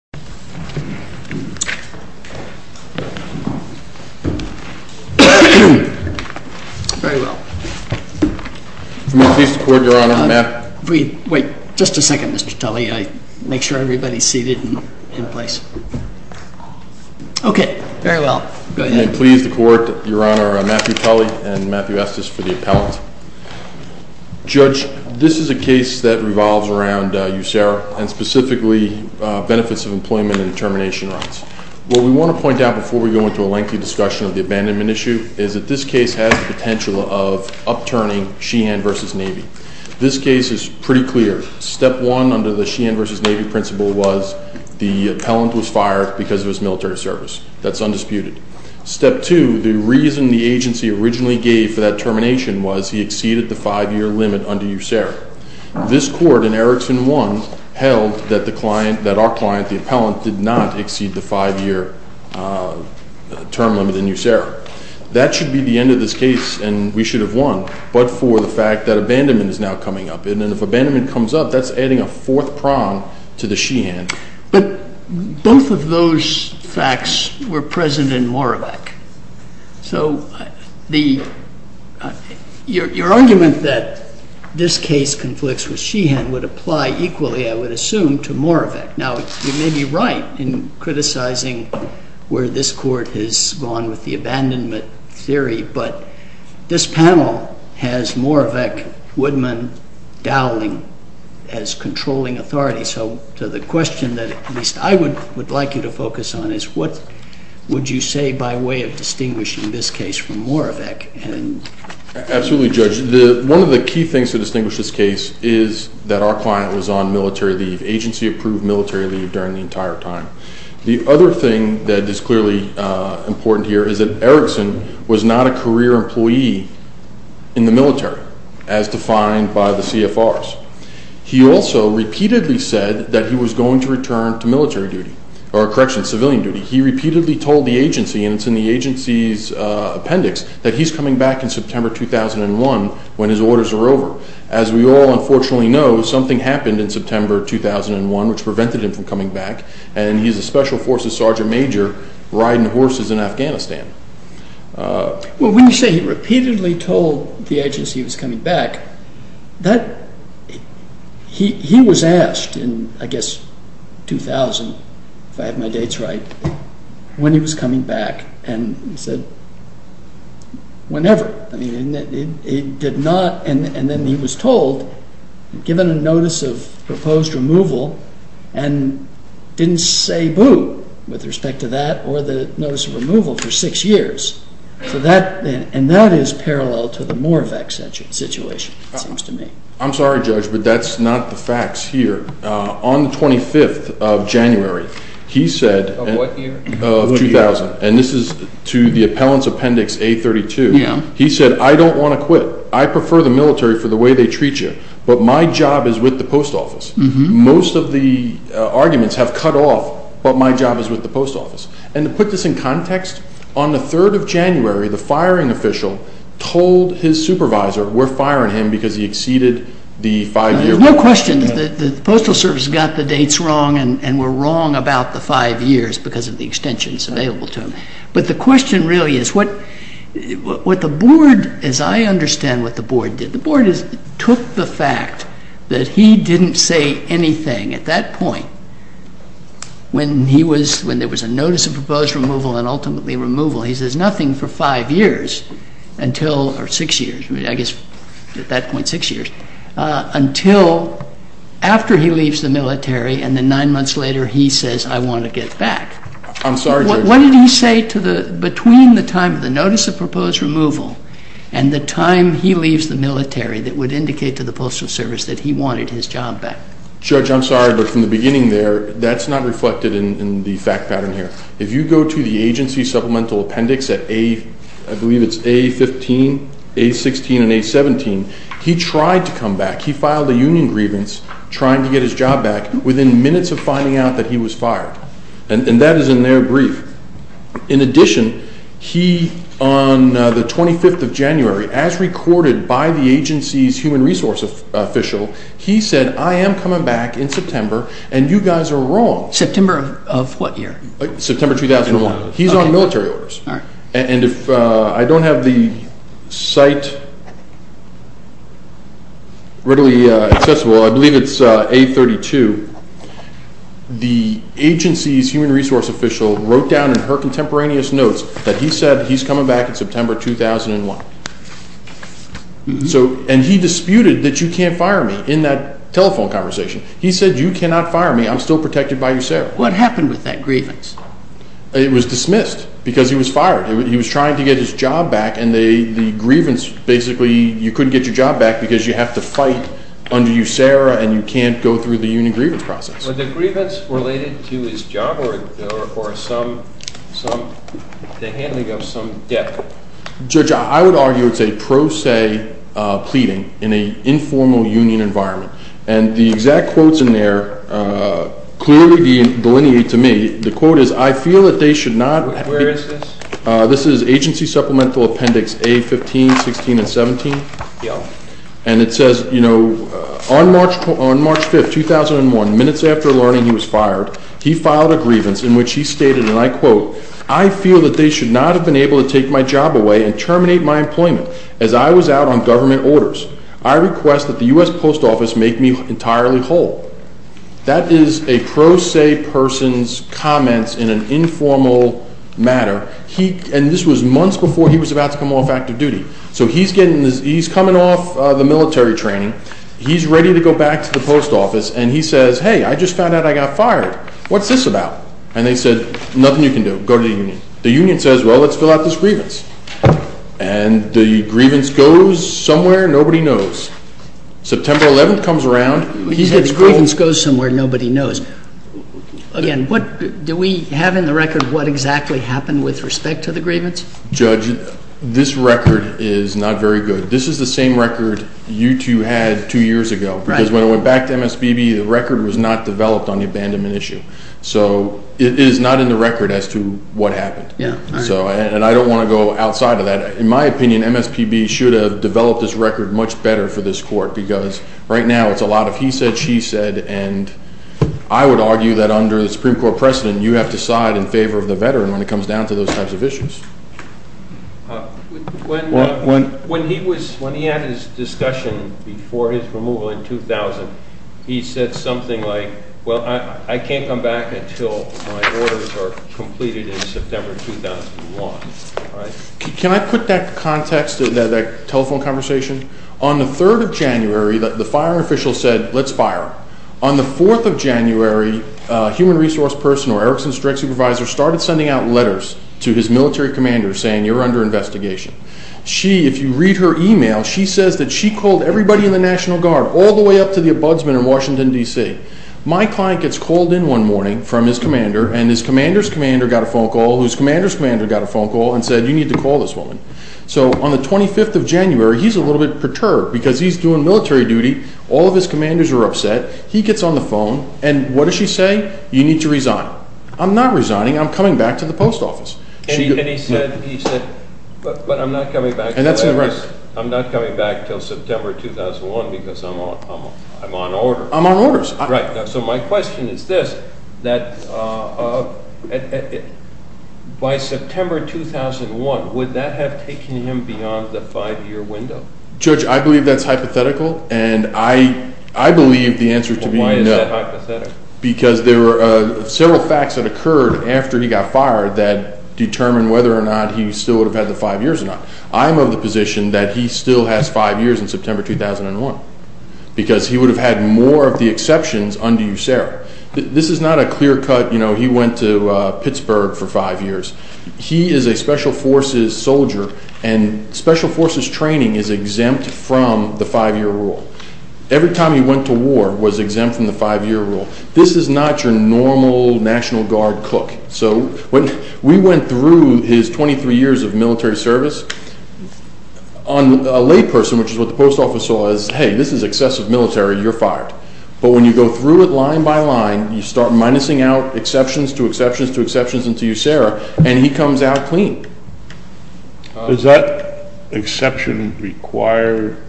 Matthew Tully v. Estes Judge, this is a case that revolves around USERRA and specifically benefits of employment and termination rights. What we want to point out before we go into a lengthy discussion of the abandonment issue is that this case has the potential of upturning Sheehan v. Navy. This case is pretty clear. Step one under the Sheehan v. Navy principle was the appellant was fired because of his military service. That's undisputed. Step two, the reason the agency originally gave for that termination was he exceeded the five-year limit under USERRA. This court in Erickson 1 held that our client, the appellant, did not exceed the five-year term limit in USERRA. That should be the end of this case, and we should have won, but for the fact that abandonment is now coming up. And if abandonment comes up, that's adding a fourth prong to the Sheehan. But both of those facts were present in Moravec. So your argument that this case conflicts with Sheehan would apply equally, I would assume, to Moravec. Now, you may be right in criticizing where this court has gone with the abandonment theory, but this panel has Moravec, Woodman, Dowling as controlling authorities. So the question that at least I would like you to focus on is what would you say by way of distinguishing this case from Moravec? Absolutely, Judge. One of the key things to distinguish this case is that our client was on military leave, agency-approved military leave, during the entire time. The other thing that is clearly important here is that Erickson was not a career employee in the military as defined by the CFRs. He also repeatedly said that he was going to return to military duty, or correction, civilian duty. He repeatedly told the agency, and it's in the agency's appendix, that he's coming back in September 2001 when his orders are over. As we all unfortunately know, something happened in September 2001 which prevented him from coming back, and he's a special forces sergeant major riding horses in Afghanistan. When you say he repeatedly told the agency he was coming back, he was asked in, I guess, 2000, if I have my dates right, when he was coming back, and he said, whenever. He did not, and then he was told, given a notice of proposed removal, and didn't say boo with respect to that or the notice of removal for six years. That is parallel to the Moravec situation, it seems to me. I'm sorry, Judge, but that's not the facts here. On the 25th of January, he said, of 2000, and this is to the appellant's appendix A32, he said, I don't want to quit. I prefer the military for the way they treat you, but my job is with the post office. Most of the arguments have cut off, but my job is with the post office. And to put this in context, on the 3rd of January, the firing official told his supervisor, we're firing him because he exceeded the five-year- the postal service got the dates wrong and were wrong about the five years because of the extensions available to him. But the question really is, what the board, as I understand what the board did, the board took the fact that he didn't say anything at that point, when there was a notice of proposed removal and ultimately removal, he says nothing for five years until, or six years, I guess at that point six years, until after he leaves the military and then nine months later he says, I want to get back. I'm sorry, Judge. What did he say between the time of the notice of proposed removal and the time he leaves the military that would indicate to the postal service that he wanted his job back? Judge, I'm sorry, but from the beginning there, that's not reflected in the fact pattern here. If you go to the agency supplemental appendix at A, I believe it's A15, A16 and A17, he tried to come back. He filed a union grievance trying to get his job back within minutes of finding out that he was fired. And that is in their brief. In addition, he, on the 25th of January, as recorded by the agency's human resource official, he said, I am coming back in September and you guys are wrong. September of what year? September 2001. He's on military orders. All right. And if I don't have the site readily accessible, I believe it's A32. The agency's human resource official wrote down in her contemporaneous notes that he said he's coming back in September 2001. And he disputed that you can't fire me in that telephone conversation. He said you cannot fire me. I'm still protected by USERRA. What happened with that grievance? It was dismissed because he was fired. He was trying to get his job back, and the grievance basically, you couldn't get your job back because you have to fight under USERRA and you can't go through the union grievance process. Was the grievance related to his job or the handling of some debt? Judge, I would argue it's a pro se pleading in an informal union environment. And the exact quotes in there clearly delineate to me. The quote is, I feel that they should not be. Where is this? This is Agency Supplemental Appendix A15, 16, and 17. And it says, you know, on March 5th, 2001, minutes after learning he was fired, he filed a grievance in which he stated, and I quote, I feel that they should not have been able to take my job away and terminate my employment as I was out on government orders. I request that the US Post Office make me entirely whole. That is a pro se person's comments in an informal matter. And this was months before he was about to come off active duty. So he's coming off the military training. He's ready to go back to the post office, and he says, hey, I just found out I got fired. What's this about? And they said, nothing you can do. Go to the union. The union says, well, let's fill out this grievance. And the grievance goes somewhere. Nobody knows. September 11th comes around. You said the grievance goes somewhere. Nobody knows. Again, do we have in the record what exactly happened with respect to the grievance? Judge, this record is not very good. This is the same record you two had two years ago. Because when it went back to MSBB, the record was not developed on the abandonment issue. So it is not in the record as to what happened. And I don't want to go outside of that. In my opinion, MSPB should have developed this record much better for this court, because right now it's a lot of he said, she said. And I would argue that under the Supreme Court precedent, you have to side in favor of the veteran when it comes down to those types of issues. When he had his discussion before his removal in 2000, he said something like, well, I can't come back until my orders are completed in September 2001. Can I put that context to that telephone conversation? On the 3rd of January, the fire official said, let's fire. On the 4th of January, a human resource person or Erickson's direct supervisor started sending out letters to his military commander saying, you're under investigation. She, if you read her email, she says that she called everybody in the National Guard all the way up to the ombudsman in Washington, D.C. My client gets called in one morning from his commander, and his commander's commander got a phone call, whose commander's commander got a phone call and said, you need to call this woman. So on the 25th of January, he's a little bit perturbed because he's doing military duty. All of his commanders are upset. He gets on the phone, and what does she say? You need to resign. I'm not resigning. I'm coming back to the post office. And he said, but I'm not coming back until September 2001 because I'm on orders. I'm on orders. Right. So my question is this, that by September 2001, would that have taken him beyond the five-year window? Judge, I believe that's hypothetical, and I believe the answer to be no. Why is that hypothetical? Because there were several facts that occurred after he got fired that determined whether or not he still would have had the five years or not. I'm of the position that he still has five years in September 2001 because he would have had more of the exceptions under USARA. This is not a clear cut, you know, he went to Pittsburgh for five years. He is a special forces soldier, and special forces training is exempt from the five-year rule. Every time he went to war was exempt from the five-year rule. This is not your normal National Guard cook. So when we went through his 23 years of military service, on a layperson, which is what the post office saw as, hey, this is excessive military. You're fired. But when you go through it line by line, you start minusing out exceptions to exceptions to exceptions into USARA, and he comes out clean. Does that exception require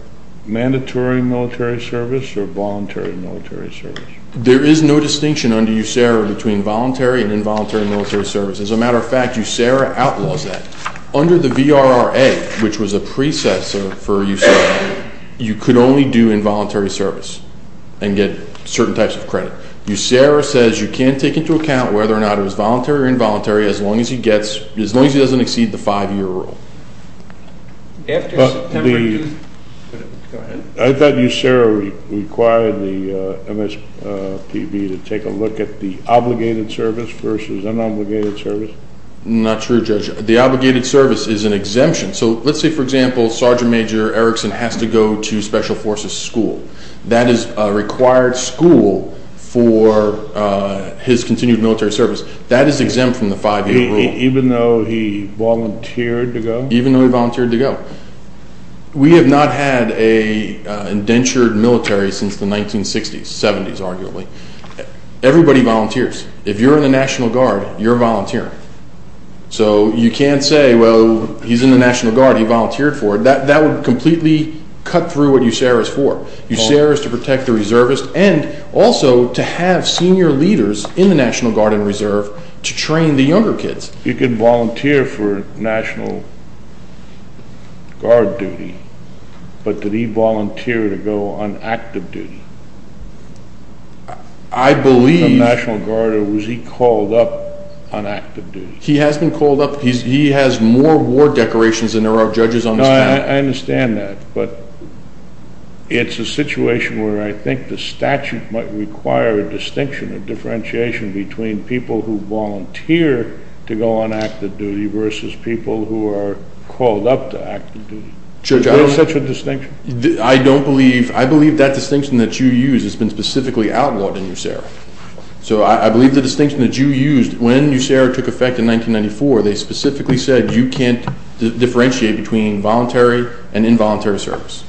mandatory military service or voluntary military service? There is no distinction under USARA between voluntary and involuntary military service. As a matter of fact, USARA outlaws that. Under the VRRA, which was a precessor for USARA, you could only do involuntary service and get certain types of credit. USARA says you can't take into account whether or not it was voluntary or involuntary as long as he doesn't exceed the five-year rule. I thought USARA required the MSPB to take a look at the obligated service versus unobligated service. Not true, Judge. The obligated service is an exemption. So let's say, for example, Sergeant Major Erickson has to go to special forces school. That is a required school for his continued military service. That is exempt from the five-year rule. Even though he volunteered to go? Even though he volunteered to go. We have not had an indentured military since the 1960s, 70s arguably. Everybody volunteers. If you're in the National Guard, you're volunteering. So you can't say, well, he's in the National Guard. He volunteered for it. That would completely cut through what USARA is for. USARA is to protect the reservists and also to have senior leaders in the National Guard and Reserve to train the younger kids. He could volunteer for National Guard duty, but did he volunteer to go on active duty? I believe. Was he called up on active duty? He has been called up. He has more war decorations than there are judges on this panel. I understand that. But it's a situation where I think the statute might require a distinction, a differentiation between people who volunteer to go on active duty versus people who are called up to active duty. Is there such a distinction? I don't believe. I believe that distinction that you use has been specifically outlawed in USARA. So I believe the distinction that you used, when USARA took effect in 1994, they specifically said you can't differentiate between voluntary and involuntary service.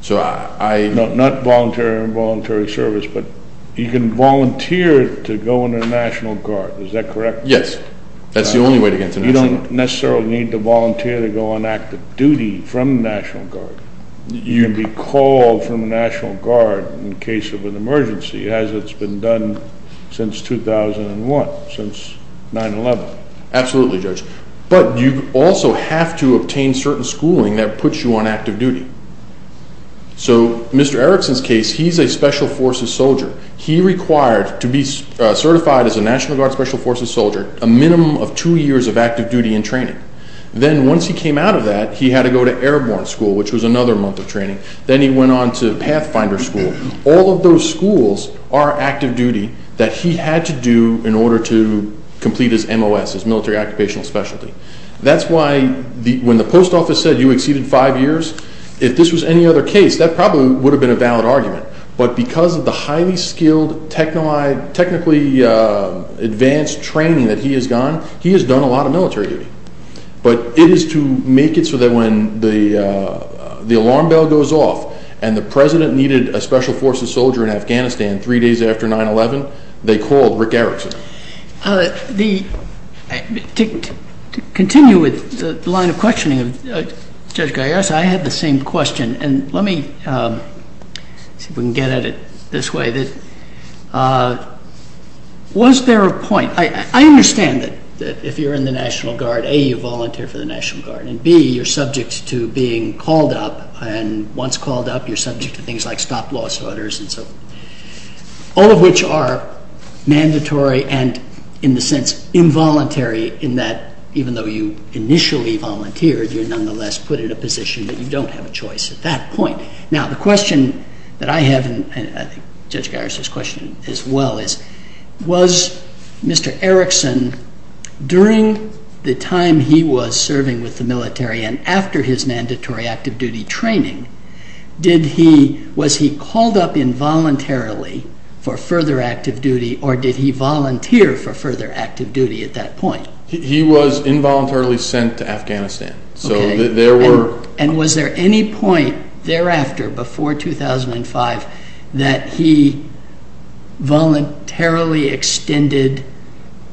So I— No, not voluntary or involuntary service, but you can volunteer to go into the National Guard. Is that correct? Yes. That's the only way to get into the National Guard. You don't necessarily need to volunteer to go on active duty from the National Guard. You can be called from the National Guard in case of an emergency, as it's been done since 2001, since 9-11. Absolutely, Judge. But you also have to obtain certain schooling that puts you on active duty. So Mr. Erickson's case, he's a Special Forces soldier. He required to be certified as a National Guard Special Forces soldier a minimum of two years of active duty and training. Then once he came out of that, he had to go to Airborne School, which was another month of training. Then he went on to Pathfinder School. All of those schools are active duty that he had to do in order to complete his MOS, his military occupational specialty. That's why when the post office said you exceeded five years, if this was any other case, that probably would have been a valid argument. But because of the highly skilled technically advanced training that he has gone, he has done a lot of military duty. But it is to make it so that when the alarm bell goes off and the President needed a Special Forces soldier in Afghanistan three days after 9-11, they called Rick Erickson. To continue with the line of questioning of Judge Gaius, I had the same question. Let me see if we can get at it this way. Was there a point? I understand that if you're in the National Guard, A, you volunteer for the National Guard, and B, you're subject to being called up. Once called up, you're subject to things like stop-loss orders, all of which are mandatory and, in a sense, involuntary, in that even though you initially volunteered, you're nonetheless put in a position that you don't have a choice at that point. Now, the question that I have, and I think Judge Gaius's question as well is, was Mr. Erickson, during the time he was serving with the military and after his mandatory active duty training, was he called up involuntarily for further active duty or did he volunteer for further active duty at that point? He was involuntarily sent to Afghanistan. Okay. And was there any point thereafter, before 2005, that he voluntarily extended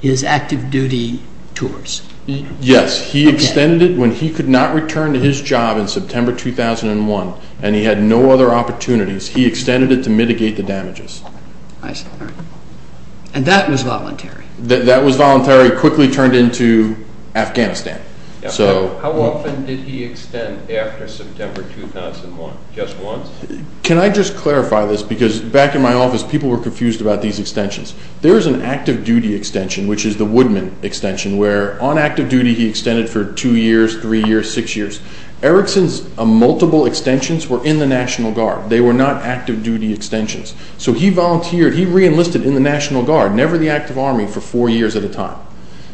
his active duty tours? Yes. He extended it when he could not return to his job in September 2001 and he had no other opportunities. He extended it to mitigate the damages. I see. All right. And that was voluntary? That was voluntary. He quickly turned into Afghanistan. How often did he extend after September 2001? Just once? Can I just clarify this? Because back in my office, people were confused about these extensions. There is an active duty extension, which is the Woodman extension, where on active duty he extended for two years, three years, six years. Erickson's multiple extensions were in the National Guard. They were not active duty extensions. So he volunteered, he reenlisted in the National Guard, never the active army, for four years at a time.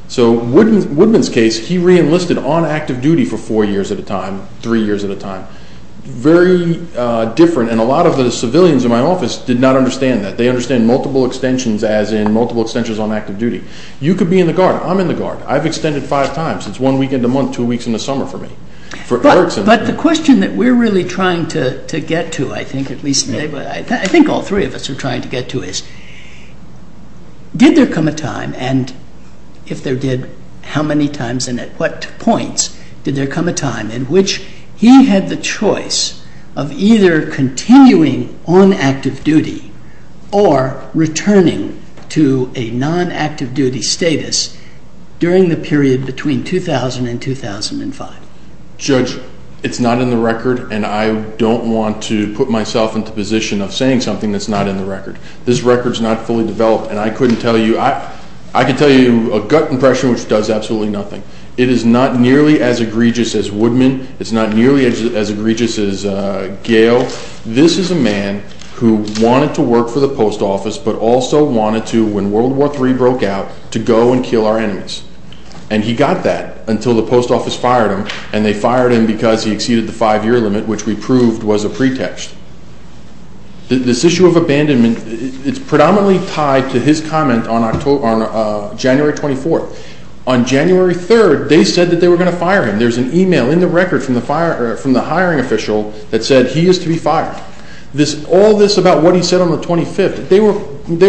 So Woodman's case, he reenlisted on active duty for four years at a time, three years at a time. Very different, and a lot of the civilians in my office did not understand that. They understand multiple extensions as in multiple extensions on active duty. You could be in the Guard. I'm in the Guard. I've extended five times. It's one week in the month, two weeks in the summer for me, for Erickson. But the question that we're really trying to get to, I think, at least today, but I think all three of us are trying to get to is, did there come a time, and if there did, how many times and at what points did there come a time in which he had the choice of either continuing on active duty or returning to a non-active duty status during the period between 2000 and 2005? Judge, it's not in the record, and I don't want to put myself into a position of saying something that's not in the record. This record's not fully developed, and I couldn't tell you. I can tell you a gut impression which does absolutely nothing. It is not nearly as egregious as Woodman. It's not nearly as egregious as Gale. This is a man who wanted to work for the post office but also wanted to, when World War III broke out, to go and kill our enemies. And he got that until the post office fired him, and they fired him because he exceeded the five-year limit, which we proved was a pretext. This issue of abandonment, it's predominantly tied to his comment on January 24th. On January 3rd, they said that they were going to fire him. There's an email in the record from the hiring official that said he is to be fired. All this about what he said on the 25th, they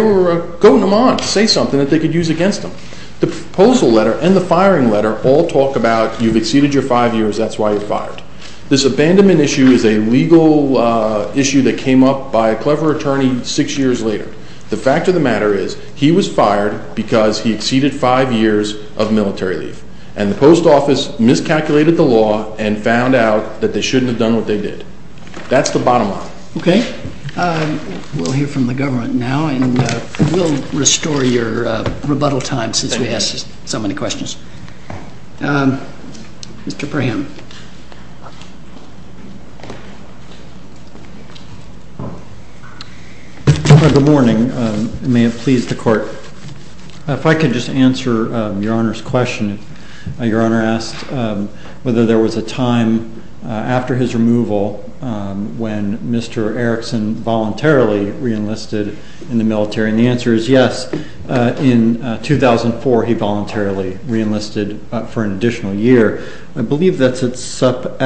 were going on to say something that they could use against him. The proposal letter and the firing letter all talk about you've exceeded your five years, that's why you're fired. This abandonment issue is a legal issue that came up by a clever attorney six years later. The fact of the matter is he was fired because he exceeded five years of military leave, and the post office miscalculated the law and found out that they shouldn't have done what they did. That's the bottom line. Okay. We'll hear from the government now, and we'll restore your rebuttal time since we asked so many questions. Mr. Perham. Good morning. It may have pleased the court. If I could just answer Your Honor's question. Your Honor asked whether there was a time after his removal when Mr. Erickson voluntarily reenlisted in the military, and the answer is yes. In 2004, he voluntarily reenlisted for an additional year. I believe that's at sub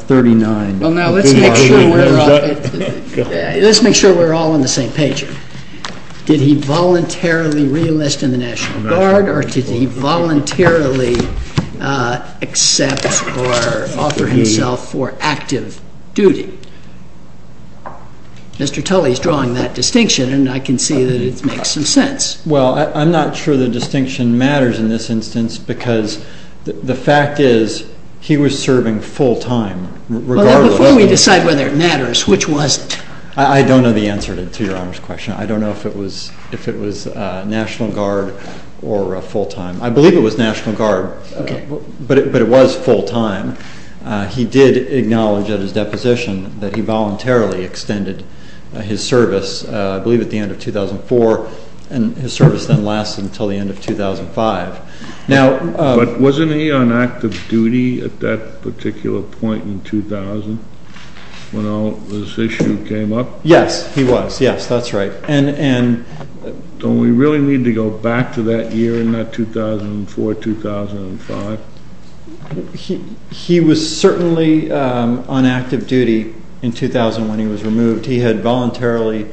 39. Well, now, let's make sure we're all on the same page here. Did he voluntarily reenlist in the National Guard, or did he voluntarily accept or offer himself for active duty? Mr. Tully is drawing that distinction, and I can see that it makes some sense. Well, I'm not sure the distinction matters in this instance because the fact is he was serving full time regardless. Well, before we decide whether it matters, which was it? I don't know the answer to Your Honor's question. I don't know if it was National Guard or full time. I believe it was National Guard, but it was full time. He did acknowledge at his deposition that he voluntarily extended his service, I believe at the end of 2004, and his service then lasted until the end of 2005. But wasn't he on active duty at that particular point in 2000 when all this issue came up? Yes, he was. Yes, that's right. Don't we really need to go back to that year in that 2004-2005? He was certainly on active duty in 2000 when he was removed. He had voluntarily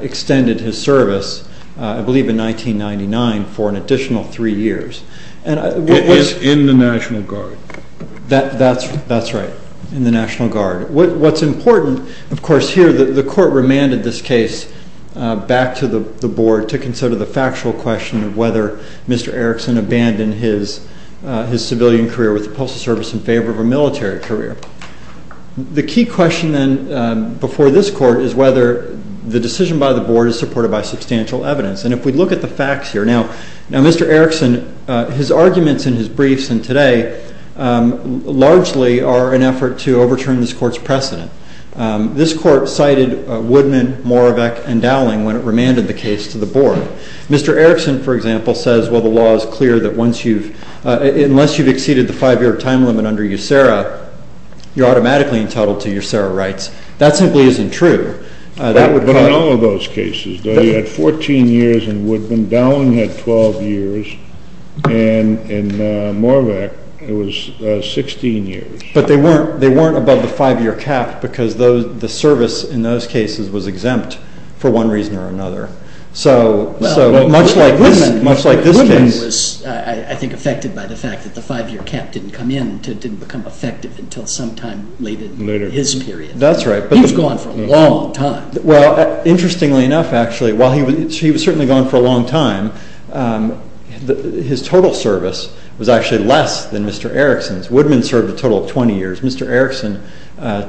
extended his service, I believe in 1999, for an additional three years. It was in the National Guard. That's right, in the National Guard. What's important, of course, here, the Court remanded this case back to the Board to consider the factual question of whether Mr. Erickson abandoned his civilian career with the Postal Service in favor of a military career. The key question, then, before this Court is whether the decision by the Board is supported by substantial evidence. And if we look at the facts here, now, Mr. Erickson, his arguments in his briefs and today largely are an effort to overturn this Court's precedent. This Court cited Woodman, Moravec, and Dowling when it remanded the case to the Board. Mr. Erickson, for example, says, well, the law is clear that unless you've exceeded the five-year time limit under USERRA, you're automatically entitled to USERRA rights. That simply isn't true. But in all of those cases, though, you had 14 years in Woodman, Dowling had 12 years, and in Moravec it was 16 years. But they weren't above the five-year cap because the service in those cases was exempt for one reason or another. Well, Woodman was, I think, affected by the fact that the five-year cap didn't come in, didn't become effective until sometime later in his period. That's right. He was gone for a long time. Well, interestingly enough, actually, while he was certainly gone for a long time, his total service was actually less than Mr. Erickson's. Woodman served a total of 20 years. Mr. Erickson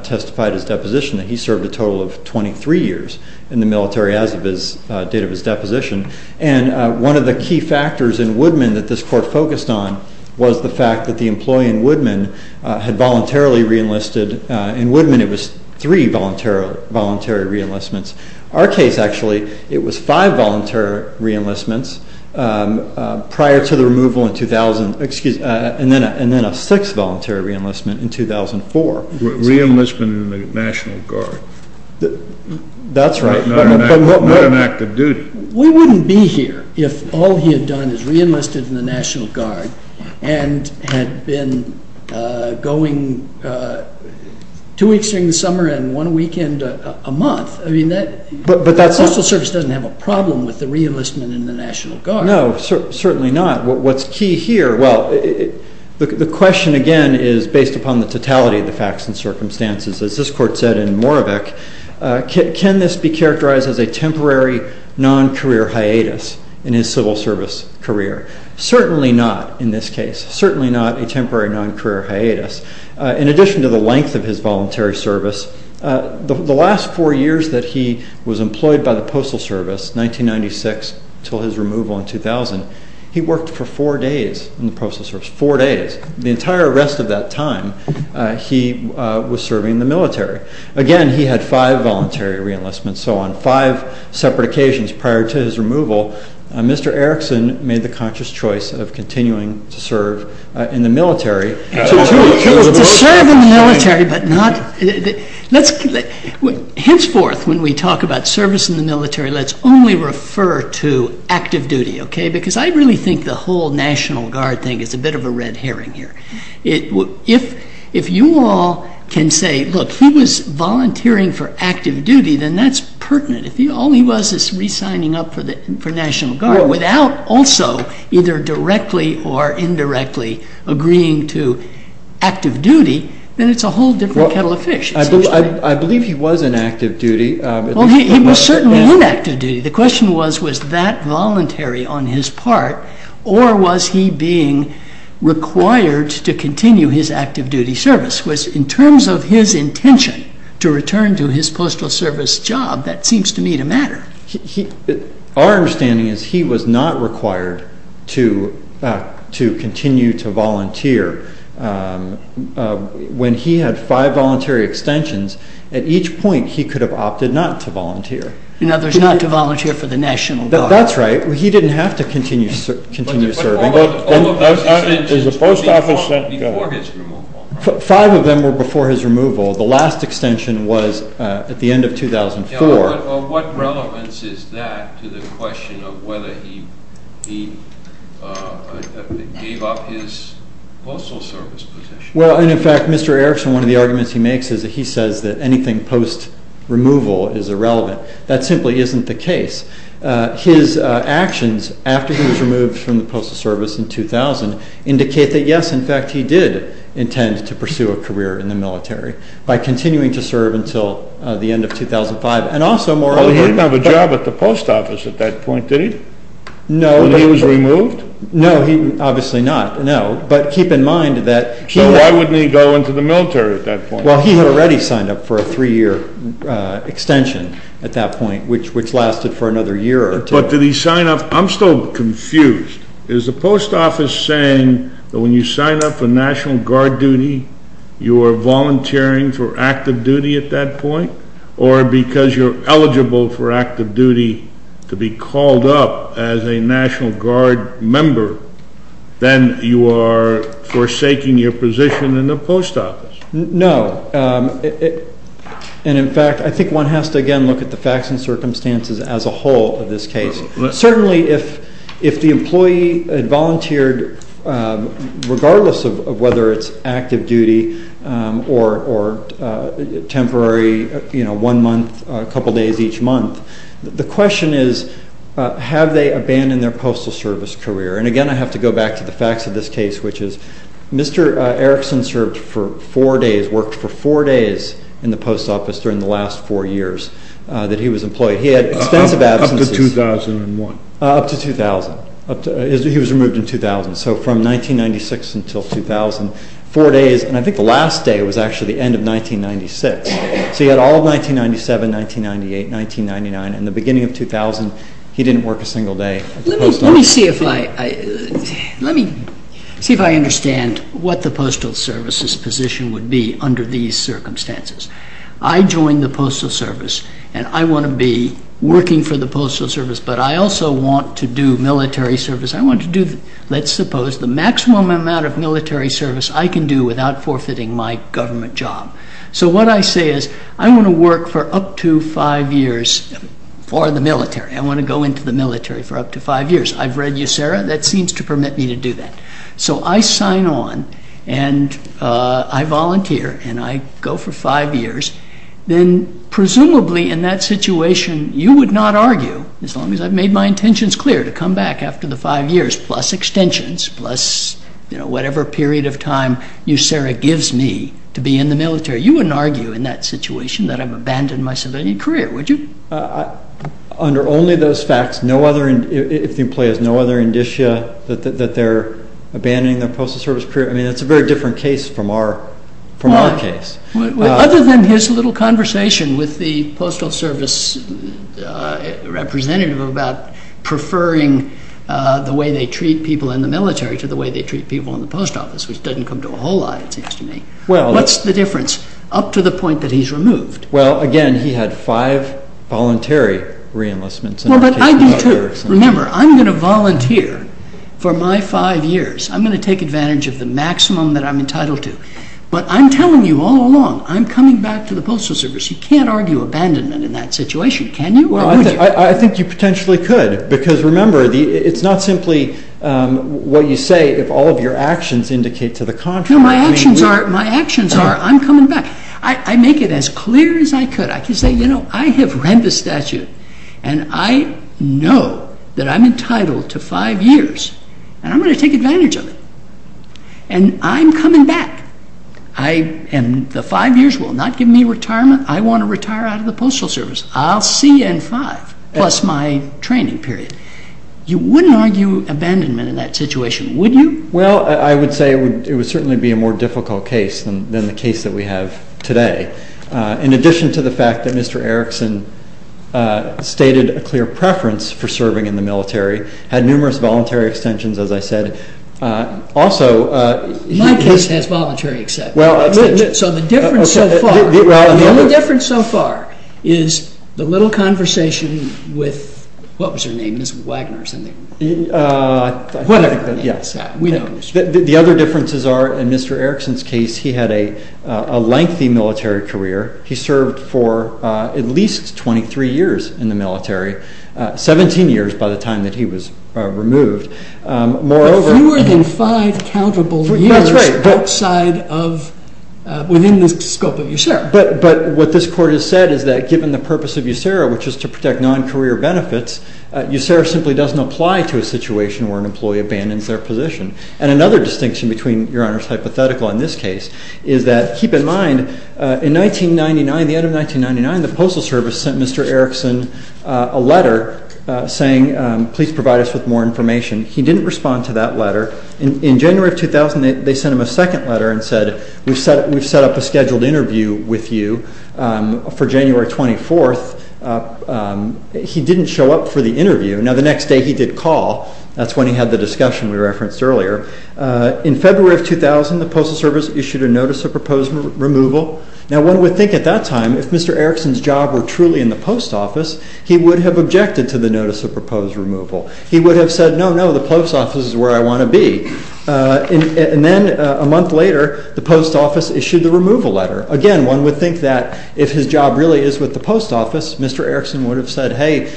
testified his deposition that he served a total of 23 years in the military as of the date of his deposition. And one of the key factors in Woodman that this court focused on was the fact that the employee in Woodman had voluntarily reenlisted. In Woodman, it was three voluntary reenlistments. Our case, actually, it was five voluntary reenlistments prior to the removal in 2000, and then a sixth voluntary reenlistment in 2004. Reenlistment in the National Guard. That's right. Not an active duty. We wouldn't be here if all he had done is reenlisted in the National Guard and had been going two weeks during the summer and one weekend a month. I mean, the Postal Service doesn't have a problem with the reenlistment in the National Guard. No, certainly not. What's key here, well, the question, again, is based upon the totality of the facts and circumstances. As this court said in Moravec, can this be characterized as a temporary non-career hiatus in his civil service career? Certainly not in this case. Certainly not a temporary non-career hiatus. In addition to the length of his voluntary service, the last four years that he was employed by the Postal Service, 1996 until his removal in 2000, he worked for four days in the Postal Service, four days. The entire rest of that time, he was serving in the military. Again, he had five voluntary reenlistments, so on five separate occasions prior to his removal, Mr. Erickson made the conscious choice of continuing to serve in the military. To serve in the military, but not, let's, henceforth, when we talk about service in the military, let's only refer to active duty, okay? Because I really think the whole National Guard thing is a bit of a red herring here. If you all can say, look, he was volunteering for active duty, then that's pertinent. If all he was is re-signing up for National Guard without also either directly or indirectly agreeing to active duty, then it's a whole different kettle of fish. I believe he was in active duty. Well, he was certainly in active duty. The question was, was that voluntary on his part, or was he being required to continue his active duty service? In terms of his intention to return to his Postal Service job, that seems to me to matter. Our understanding is he was not required to continue to volunteer. When he had five voluntary extensions, at each point, he could have opted not to volunteer. In other words, not to volunteer for the National Guard. That's right. He didn't have to continue serving. All of those extensions were before his removal. Five of them were before his removal. The last extension was at the end of 2004. What relevance is that to the question of whether he gave up his Postal Service position? Well, in fact, Mr. Erickson, one of the arguments he makes is that he says that anything post-removal is irrelevant. That simply isn't the case. His actions after he was removed from the Postal Service in 2000 indicate that, yes, in fact, he did intend to pursue a career in the military by continuing to serve until the end of 2005. He didn't have a job at the Post Office at that point, did he? No. When he was removed? No, obviously not. No, but keep in mind that he— So why wouldn't he go into the military at that point? Well, he had already signed up for a three-year extension at that point, which lasted for another year or two. But did he sign up—I'm still confused. Is the Post Office saying that when you sign up for National Guard duty, you are volunteering for active duty at that point? Or because you're eligible for active duty to be called up as a National Guard member, then you are forsaking your position in the Post Office? No. And, in fact, I think one has to, again, look at the facts and circumstances as a whole of this case. Certainly, if the employee had volunteered, regardless of whether it's active duty or temporary, you know, one month, a couple days each month, the question is have they abandoned their Postal Service career? And, again, I have to go back to the facts of this case, which is Mr. Erickson served for four days, worked for four days in the Post Office during the last four years that he was employed. He had extensive absences. Up to 2001? Up to 2000. He was removed in 2000. So from 1996 until 2000, four days, and I think the last day was actually the end of 1996. So he had all of 1997, 1998, 1999, and the beginning of 2000, he didn't work a single day at the Post Office. Let me see if I understand what the Postal Service's position would be under these circumstances. I joined the Postal Service, and I want to be working for the Postal Service, but I also want to do military service. I want to do, let's suppose, the maximum amount of military service I can do without forfeiting my government job. So what I say is I want to work for up to five years for the military. I want to go into the military for up to five years. I've read USERRA. That seems to permit me to do that. So I sign on, and I volunteer, and I go for five years. Then presumably in that situation, you would not argue, as long as I've made my intentions clear to come back after the five years, plus extensions, plus whatever period of time USERRA gives me to be in the military, you wouldn't argue in that situation that I've abandoned my civilian career, would you? Under only those facts, if the employee has no other indicia that they're abandoning their Postal Service career, I mean, that's a very different case from our case. Other than his little conversation with the Postal Service representative about preferring the way they treat people in the military to the way they treat people in the post office, which doesn't come to a whole lot, it seems to me, what's the difference up to the point that he's removed? Well, again, he had five voluntary re-enlistments. Well, but I do, too. Remember, I'm going to volunteer for my five years. I'm going to take advantage of the maximum that I'm entitled to. But I'm telling you all along, I'm coming back to the Postal Service. You can't argue abandonment in that situation, can you, or would you? I think you potentially could, because remember, it's not simply what you say if all of your actions indicate to the contrary. No, my actions are, I'm coming back. I make it as clear as I could. I can say, you know, I have read the statute, and I know that I'm entitled to five years, and I'm going to take advantage of it, and I'm coming back. And the five years will not give me retirement. I want to retire out of the Postal Service. I'll see you in five, plus my training period. You wouldn't argue abandonment in that situation, would you? Well, I would say it would certainly be a more difficult case than the case that we have today. In addition to the fact that Mr. Erickson stated a clear preference for serving in the military, had numerous voluntary extensions, as I said. My case has voluntary extensions. So the difference so far, the only difference so far is the little conversation with, what was her name? Ms. Wagner or something. Yes. The other differences are, in Mr. Erickson's case, he had a lengthy military career. He served for at least 23 years in the military, 17 years by the time that he was removed. Fewer than five countable years outside of, within the scope of USERRA. But what this Court has said is that given the purpose of USERRA, which is to protect non-career benefits, USERRA simply doesn't apply to a situation where an employee abandons their position. And another distinction between Your Honor's hypothetical and this case is that, keep in mind, in 1999, the end of 1999, the Postal Service sent Mr. Erickson a letter saying, Please provide us with more information. He didn't respond to that letter. In January of 2000, they sent him a second letter and said, We've set up a scheduled interview with you for January 24th. He didn't show up for the interview. Now, the next day he did call. That's when he had the discussion we referenced earlier. In February of 2000, the Postal Service issued a notice of proposed removal. Now, one would think at that time, if Mr. Erickson's job were truly in the post office, he would have objected to the notice of proposed removal. He would have said, No, no, the post office is where I want to be. And then a month later, the post office issued the removal letter. Again, one would think that if his job really is with the post office, Mr. Erickson would have said, Hey,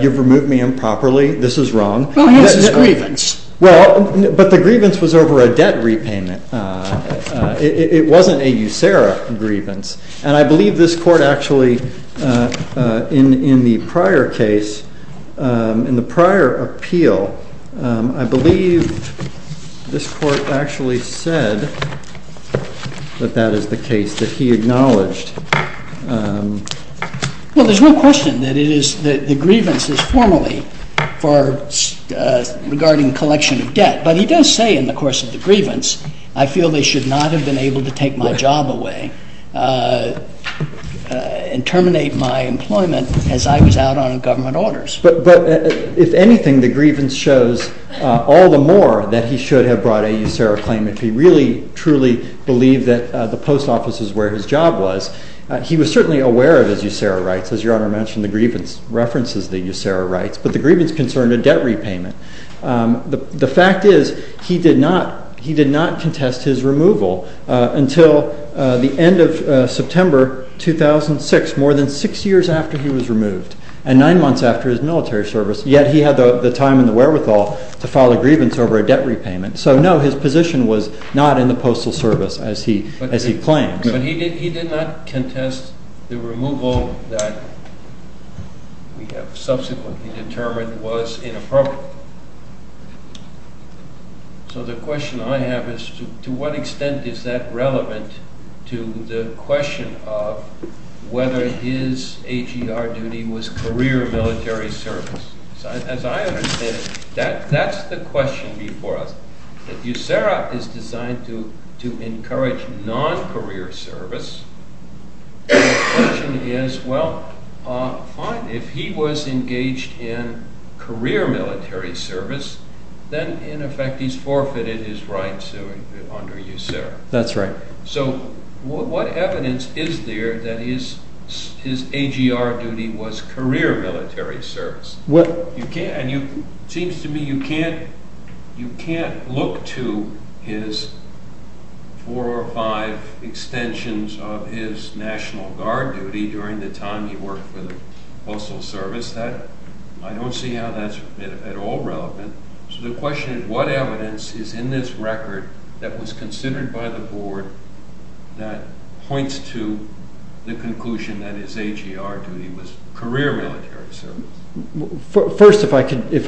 you've removed me improperly. This is wrong. Well, hence his grievance. Well, but the grievance was over a debt repayment. It wasn't a USERRA grievance. And I believe this Court actually, in the prior case, in the prior appeal, I believe this Court actually said that that is the case, that he acknowledged. Well, there's no question that the grievance is formally regarding collection of debt. But he does say in the course of the grievance, I feel they should not have been able to take my job away and terminate my employment as I was out on government orders. But if anything, the grievance shows all the more that he should have brought a USERRA claim if he really, truly believed that the post office is where his job was. He was certainly aware of his USERRA rights. As Your Honor mentioned, the grievance references the USERRA rights. But the grievance concerned a debt repayment. The fact is he did not contest his removal until the end of September 2006, more than six years after he was removed, and nine months after his military service. Yet he had the time and the wherewithal to file a grievance over a debt repayment. So, no, his position was not in the Postal Service as he claimed. But he did not contest the removal that we have subsequently determined was inappropriate. So the question I have is to what extent is that relevant to the question of whether his AGR duty was career military service. As I understand it, that's the question before us. USERRA is designed to encourage non-career service. The question is, well, fine, if he was engaged in career military service, then in effect he's forfeited his rights under USERRA. That's right. So what evidence is there that his AGR duty was career military service? It seems to me you can't look to his four or five extensions of his National Guard duty during the time he worked for the Postal Service. I don't see how that's at all relevant. So the question is what evidence is in this record that was considered by the Board that points to the conclusion that his AGR duty was career military service? First, if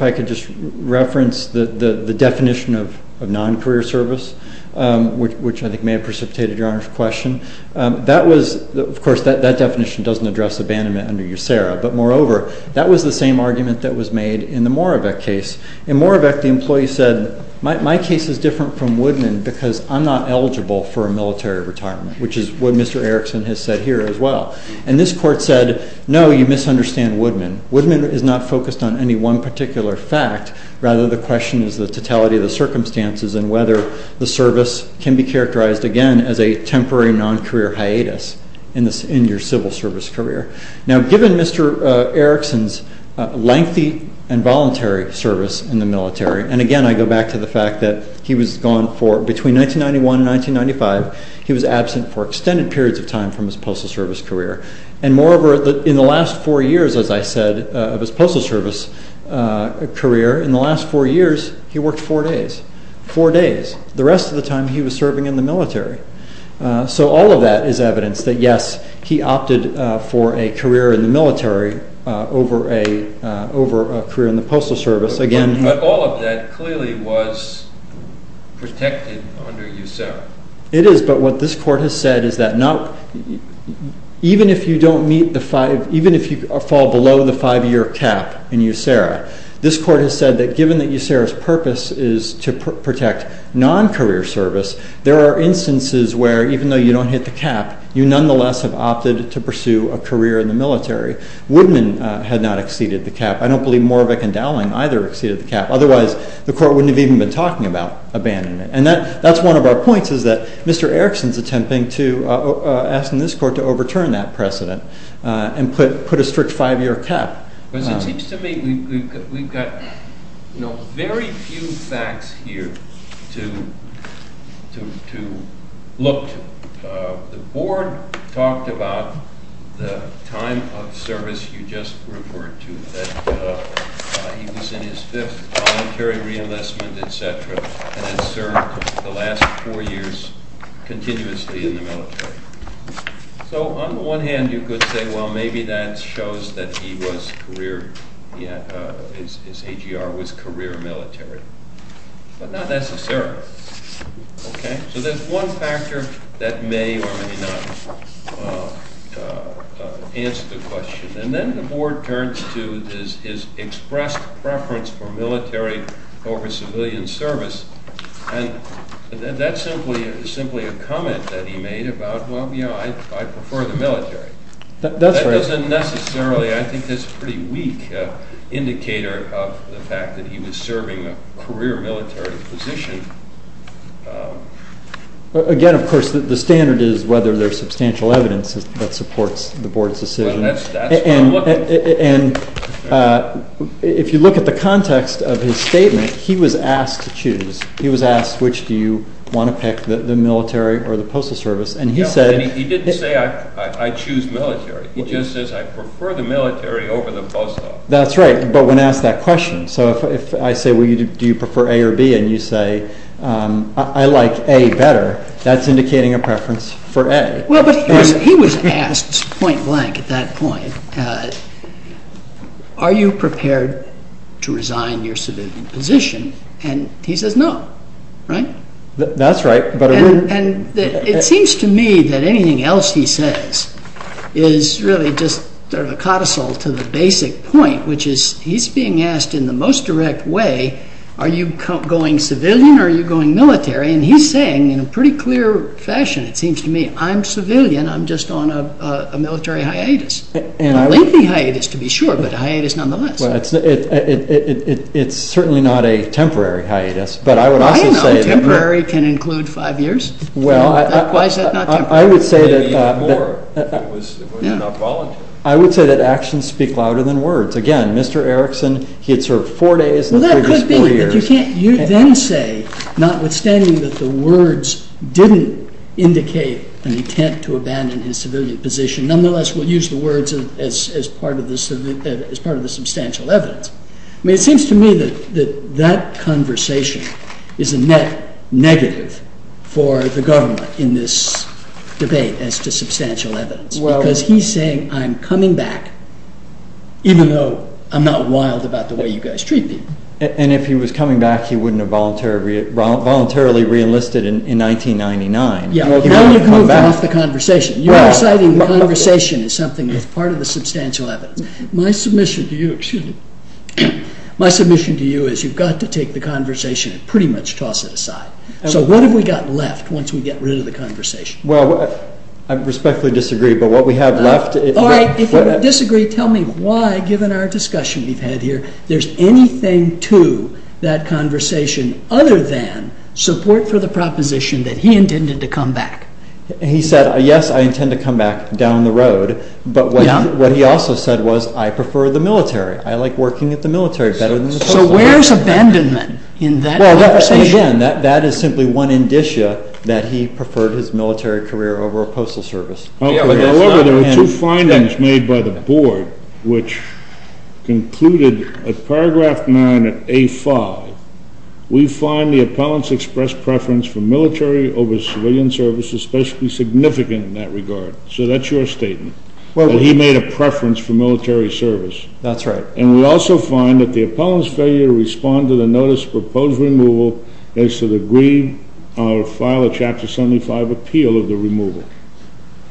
I could just reference the definition of non-career service, which I think may have precipitated Your Honor's question. Of course, that definition doesn't address abandonment under USERRA. But moreover, that was the same argument that was made in the Moravec case. In Moravec, the employee said, my case is different from Woodman because I'm not eligible for a military retirement, which is what Mr. Erickson has said here as well. And this court said, no, you misunderstand Woodman. Woodman is not focused on any one particular fact. Rather, the question is the totality of the circumstances and whether the service can be characterized, again, as a temporary non-career hiatus in your civil service career. Now, given Mr. Erickson's lengthy and voluntary service in the military, and again I go back to the fact that he was gone for between 1991 and 1995, he was absent for extended periods of time from his Postal Service career. And moreover, in the last four years, as I said, of his Postal Service career, in the last four years he worked four days, four days. The rest of the time he was serving in the military. So all of that is evidence that, yes, he opted for a career in the military over a career in the Postal Service. But all of that clearly was protected under USERRA. It is, but what this court has said is that even if you fall below the five-year cap in USERRA, this court has said that given that USERRA's purpose is to protect non-career service, there are instances where, even though you don't hit the cap, you nonetheless have opted to pursue a career in the military. Woodman had not exceeded the cap. I don't believe Morvick and Dowling either exceeded the cap. Otherwise, the court wouldn't have even been talking about abandonment. And that's one of our points is that Mr. Erickson is attempting to, asking this court to overturn that precedent and put a strict five-year cap. Because it seems to me we've got, you know, very few facts here to look to. The board talked about the time of service you just referred to, that he was in his fifth voluntary re-enlistment, et cetera, and had served the last four years continuously in the military. So on the one hand, you could say, well, maybe that shows that he was career, his AGR was career military. But not necessarily. Okay? So that's one factor that may or may not answer the question. And then the board turns to his expressed preference for military over civilian service. And that's simply a comment that he made about, well, you know, I prefer the military. That doesn't necessarily, I think, is a pretty weak indicator of the fact that he was serving a career military position. Again, of course, the standard is whether there's substantial evidence that supports the board's decision. But that's what I'm looking for. And if you look at the context of his statement, he was asked to choose. He was asked, which do you want to pick, the military or the postal service? And he said he didn't say, I choose military. He just says, I prefer the military over the postal. That's right. But when asked that question. So if I say, well, do you prefer A or B, and you say, I like A better, that's indicating a preference for A. Well, but he was asked point blank at that point, are you prepared to resign your civilian position? And he says no. Right? That's right. And it seems to me that anything else he says is really just sort of a codicil to the basic point, which is he's being asked in the most direct way, are you going civilian or are you going military? And he's saying in a pretty clear fashion, it seems to me, I'm civilian. I'm just on a military hiatus. A lengthy hiatus, to be sure, but a hiatus nonetheless. It's certainly not a temporary hiatus. But I would also say that. I don't know. Temporary can include five years. Why is that not temporary? I would say that. Maybe even more if you're not volunteering. I would say that actions speak louder than words. Again, Mr. Erickson, he had served four days in the previous four years. Well, that could be, but you can't then say, notwithstanding that the words didn't indicate an intent to abandon his civilian position, nonetheless we'll use the words as part of the substantial evidence. I mean, it seems to me that that conversation is a net negative for the government in this debate as to substantial evidence. Because he's saying, I'm coming back, even though I'm not wild about the way you guys treat people. And if he was coming back, he wouldn't have voluntarily reenlisted in 1999. Yeah, now you're coming off the conversation. You're citing the conversation as something that's part of the substantial evidence. My submission to you is you've got to take the conversation and pretty much toss it aside. So what have we got left once we get rid of the conversation? Well, I respectfully disagree, but what we have left is— All right, if you disagree, tell me why, given our discussion we've had here, there's anything to that conversation other than support for the proposition that he intended to come back. He said, yes, I intend to come back down the road. But what he also said was, I prefer the military. I like working at the military better than the post office. So where's abandonment in that conversation? And again, that is simply one indicia that he preferred his military career over a postal service. However, there were two findings made by the board which concluded at paragraph 9 of A5, we find the appellant's expressed preference for military over civilian service especially significant in that regard. So that's your statement, that he made a preference for military service. That's right. And we also find that the appellant's failure to respond to the notice proposed removal as to the grieve or file a Chapter 75 appeal of the removal.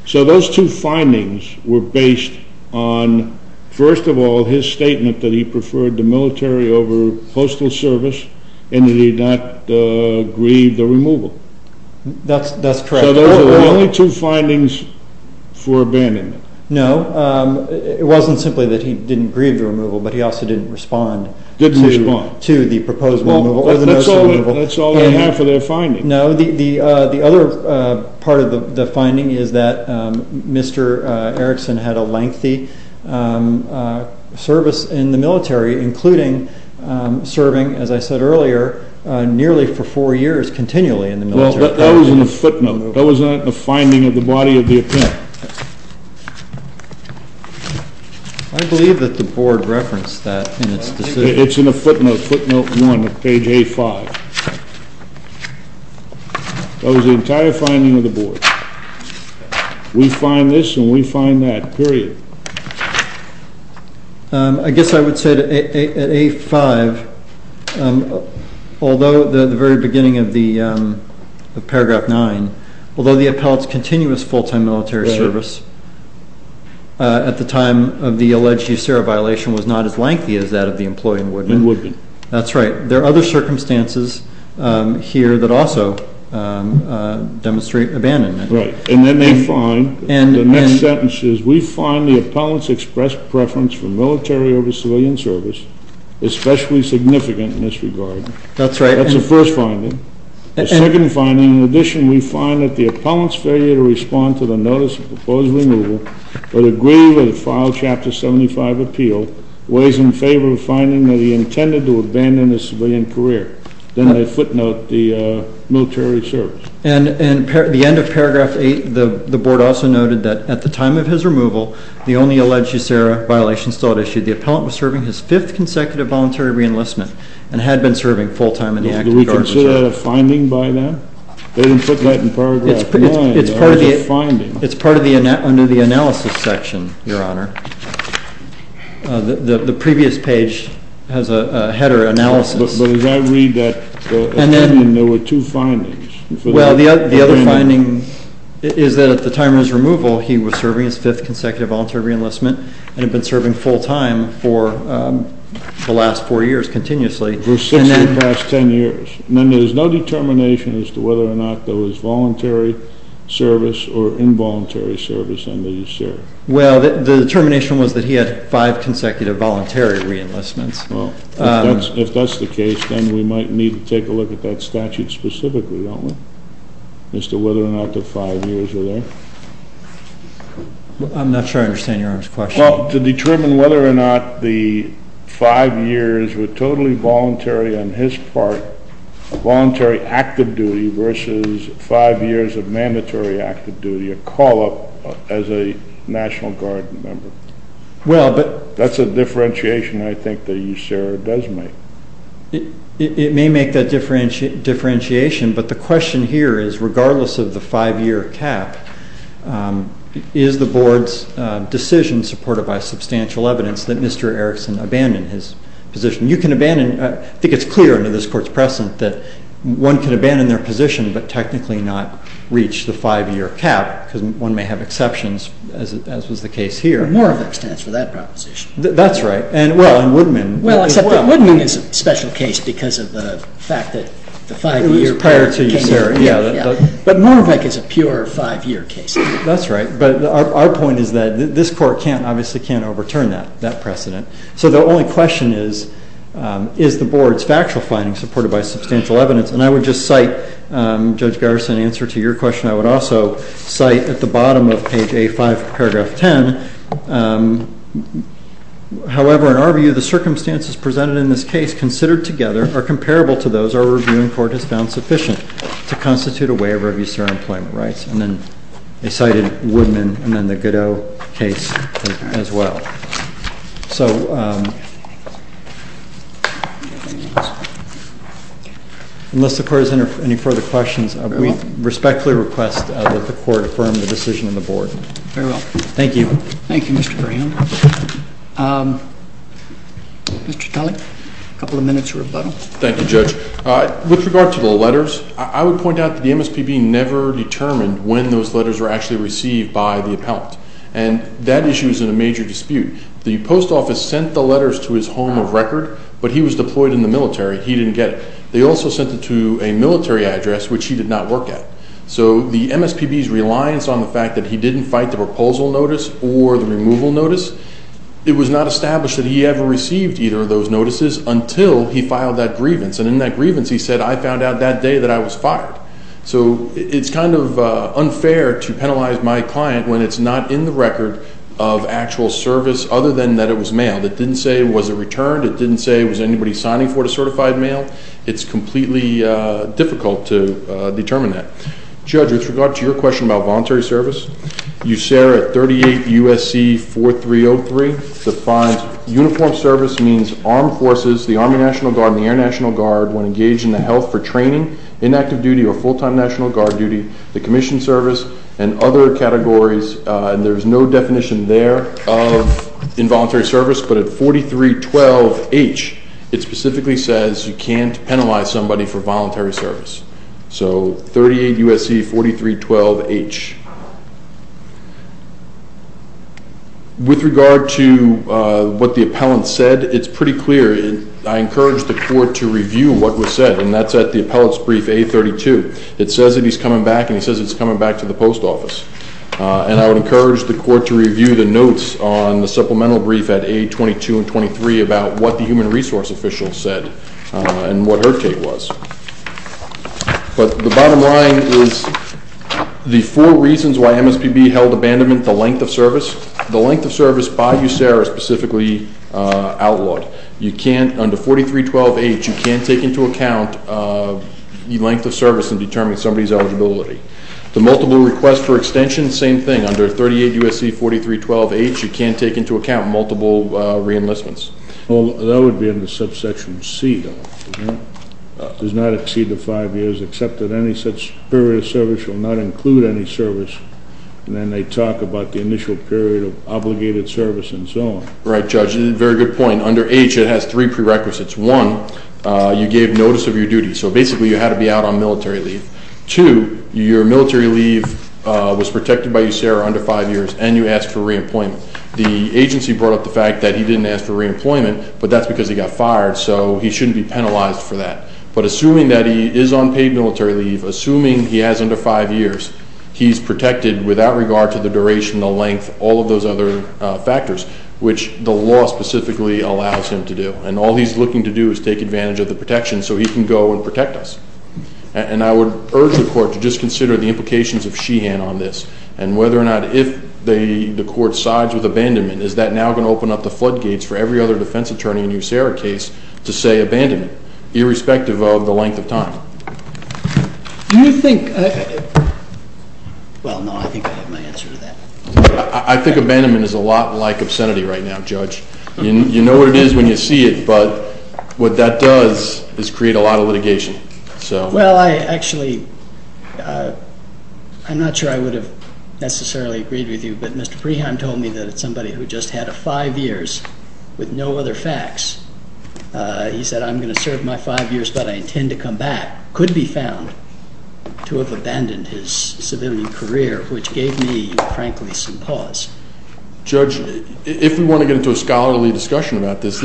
So those two findings were based on, first of all, his statement that he preferred the military over postal service and that he did not grieve the removal. That's correct. So those were the only two findings for abandonment. No. It wasn't simply that he didn't grieve the removal, but he also didn't respond. Didn't respond. To the proposed removal. That's all they have for their findings. No. The other part of the finding is that Mr. Erickson had a lengthy service in the military, including serving, as I said earlier, nearly for four years continually in the military. That wasn't a footnote. That was not the finding of the body of the appellant. I believe that the board referenced that in its decision. It's in a footnote, footnote one of page A-5. That was the entire finding of the board. We find this and we find that, period. I guess I would say that at A-5, although the very beginning of the paragraph nine, although the appellant's continuous full-time military service at the time of the alleged USARA violation was not as lengthy as that of the employee in Woodman. In Woodman. That's right. There are other circumstances here that also demonstrate abandonment. Right. And then they find, the next sentence is, we find the appellant's expressed preference for military over civilian service especially significant in this regard. That's right. That's the first finding. The second finding, in addition, we find that the appellant's failure to respond to the notice of proposed removal would agree with the filed Chapter 75 appeal, weighs in favor of the finding that he intended to abandon his civilian career. Then they footnote the military service. And at the end of paragraph eight, the board also noted that at the time of his removal, the only alleged USARA violation still at issue, the appellant was serving his fifth consecutive voluntary reenlistment and had been serving full-time in the active guard reserve. Do we consider that a finding by then? They didn't put that in paragraph nine. It's part of the analysis section, Your Honor. The previous page has a header analysis. But as I read that, there were two findings. Well, the other finding is that at the time of his removal, he was serving his fifth consecutive voluntary reenlistment and had been serving full-time for the last four years continuously. For six of the past ten years. And then there's no determination as to whether or not there was voluntary service or involuntary service under USARA. Well, the determination was that he had five consecutive voluntary reenlistments. Well, if that's the case, then we might need to take a look at that statute specifically, don't we? As to whether or not the five years were there. I'm not sure I understand Your Honor's question. Well, to determine whether or not the five years were totally voluntary on his part, a voluntary active duty versus five years of mandatory active duty, a call-up as a National Guard member. That's a differentiation I think that USARA does make. It may make that differentiation. But the question here is, regardless of the five-year cap, is the Board's decision supported by substantial evidence that Mr. Erickson abandoned his position? You can abandon. I think it's clear under this Court's precedent that one can abandon their position, but technically not reach the five-year cap because one may have exceptions, as was the case here. That's right. Well, except that Woodman is a special case because of the fact that the five-year cap came in. It was prior to USARA, yeah. But Moravec is a pure five-year case. That's right. But our point is that this Court obviously can't overturn that precedent. So the only question is, is the Board's factual findings supported by substantial evidence? And I would just cite, Judge Garrison, in answer to your question, I would also cite at the bottom of Page A5, Paragraph 10, however, in our view, the circumstances presented in this case considered together are comparable to those our reviewing court has found sufficient to constitute a waiver of USARA employment rights. And then they cited Woodman and then the Godot case as well. So unless the Court has any further questions, we respectfully request that the Court affirm the decision of the Board. Very well. Thank you. Thank you, Mr. Graham. Mr. Tully, a couple of minutes rebuttal. Thank you, Judge. With regard to the letters, I would point out that the MSPB never determined when those letters were actually received by the appellant. And that issue is in a major dispute. The post office sent the letters to his home of record, but he was deployed in the military. He didn't get it. They also sent it to a military address, which he did not work at. So the MSPB's reliance on the fact that he didn't fight the proposal notice or the removal notice, it was not established that he ever received either of those notices until he filed that grievance. And in that grievance, he said, I found out that day that I was fired. So it's kind of unfair to penalize my client when it's not in the record of actual service, other than that it was mailed. It didn't say, was it returned? It didn't say, was anybody signing for it a certified mail? It's completely difficult to determine that. Judge, with regard to your question about voluntary service, USARA 38 USC 4303 defines uniformed service means armed forces, the Army National Guard and the Air National Guard when engaged in the health for training in active duty or full-time National Guard duty, the commission service, and other categories. And there's no definition there of involuntary service, but at 4312H, it specifically says you can't penalize somebody for voluntary service. So 38 USC 4312H. With regard to what the appellant said, it's pretty clear. I encourage the court to review what was said, and that's at the appellant's brief A32. It says that he's coming back, and he says it's coming back to the post office. And I would encourage the court to review the notes on the supplemental brief at A22 and 23 about what the human resource official said and what her take was. But the bottom line is the four reasons why MSPB held abandonment, the length of service, by USARA specifically outlawed. Under 4312H, you can't take into account the length of service and determine somebody's eligibility. The multiple requests for extension, same thing. Under 38 USC 4312H, you can't take into account multiple reenlistments. Well, that would be in the subsection C. It does not exceed the five years, except that any such period of service will not include any service. And then they talk about the initial period of obligated service and so on. Right, Judge, very good point. Under H, it has three prerequisites. One, you gave notice of your duty, so basically you had to be out on military leave. Two, your military leave was protected by USARA under five years, and you asked for reemployment. The agency brought up the fact that he didn't ask for reemployment, but that's because he got fired, so he shouldn't be penalized for that. But assuming that he is on paid military leave, assuming he has under five years, he's protected without regard to the duration, the length, all of those other factors, which the law specifically allows him to do. And all he's looking to do is take advantage of the protection so he can go and protect us. And I would urge the court to just consider the implications of Sheehan on this and whether or not if the court sides with abandonment, is that now going to open up the floodgates for every other defense attorney in a USARA case to say abandonment, irrespective of the length of time? Well, no, I think I have my answer to that. I think abandonment is a lot like obscenity right now, Judge. You know what it is when you see it, but what that does is create a lot of litigation. Well, actually, I'm not sure I would have necessarily agreed with you, but Mr. Preheim told me that it's somebody who just had five years with no other facts. He said, I'm going to serve my five years, but I intend to come back. Could be found to have abandoned his civilian career, which gave me, frankly, some pause. Judge, if we want to get into a scholarly discussion about this,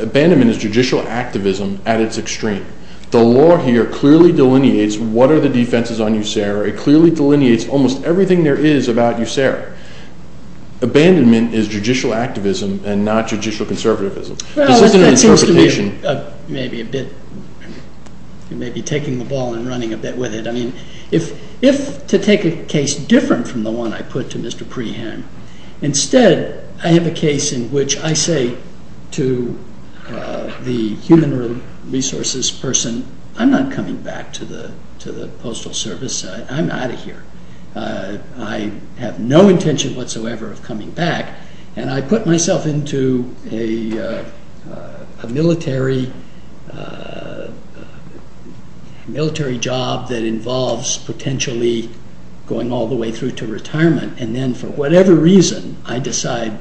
abandonment is judicial activism at its extreme. The law here clearly delineates what are the defenses on USARA. It clearly delineates almost everything there is about USARA. Abandonment is judicial activism and not judicial conservatism. Well, that seems to me maybe taking the ball and running a bit with it. If to take a case different from the one I put to Mr. Preheim, instead I have a case in which I say to the human resources person, I'm not coming back to the Postal Service. I'm out of here. I have no intention whatsoever of coming back, and I put myself into a military job that involves potentially going all the way through to retirement, and then for whatever reason, I decide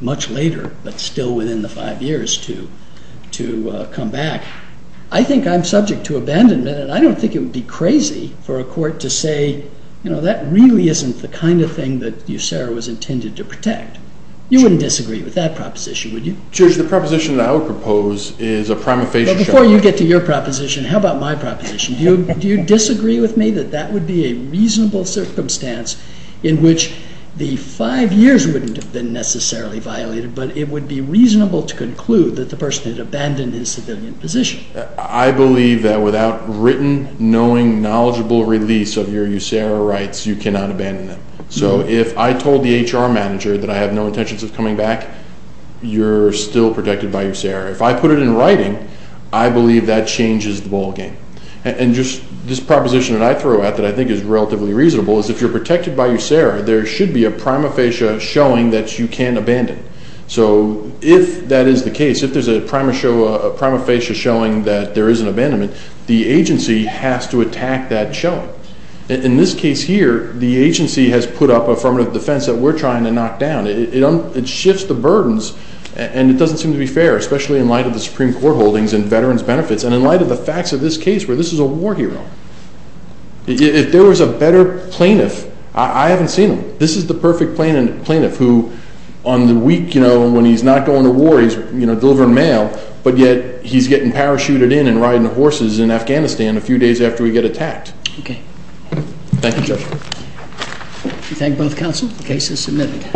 much later, but still within the five years, to come back. I think I'm subject to abandonment, and I don't think it would be crazy for a court to say, that really isn't the kind of thing that USARA was intended to protect. You wouldn't disagree with that proposition, would you? The proposition that I would propose is a prima facie... Before you get to your proposition, how about my proposition? Do you disagree with me that that would be a reasonable circumstance in which the five years wouldn't have been necessarily violated, but it would be reasonable to conclude that the person had abandoned his civilian position? I believe that without written, knowing, knowledgeable release of your USARA rights, you cannot abandon them. If I told the HR manager that I have no intentions of coming back, you're still protected by USARA. If I put it in writing, I believe that changes the ballgame. This proposition that I throw out that I think is relatively reasonable is, if you're protected by USARA, there should be a prima facie showing that you can abandon. So if that is the case, if there's a prima facie showing that there is an abandonment, the agency has to attack that showing. In this case here, the agency has put up affirmative defense that we're trying to knock down. It shifts the burdens, and it doesn't seem to be fair, especially in light of the Supreme Court holdings and veterans' benefits, and in light of the facts of this case where this is a war hero. If there was a better plaintiff, I haven't seen them. This is the perfect plaintiff who, on the week when he's not going to war, he's delivering mail, but yet he's getting parachuted in and riding horses in Afghanistan a few days after we get attacked. Thank you, Judge. We thank both counsel. The case is submitted.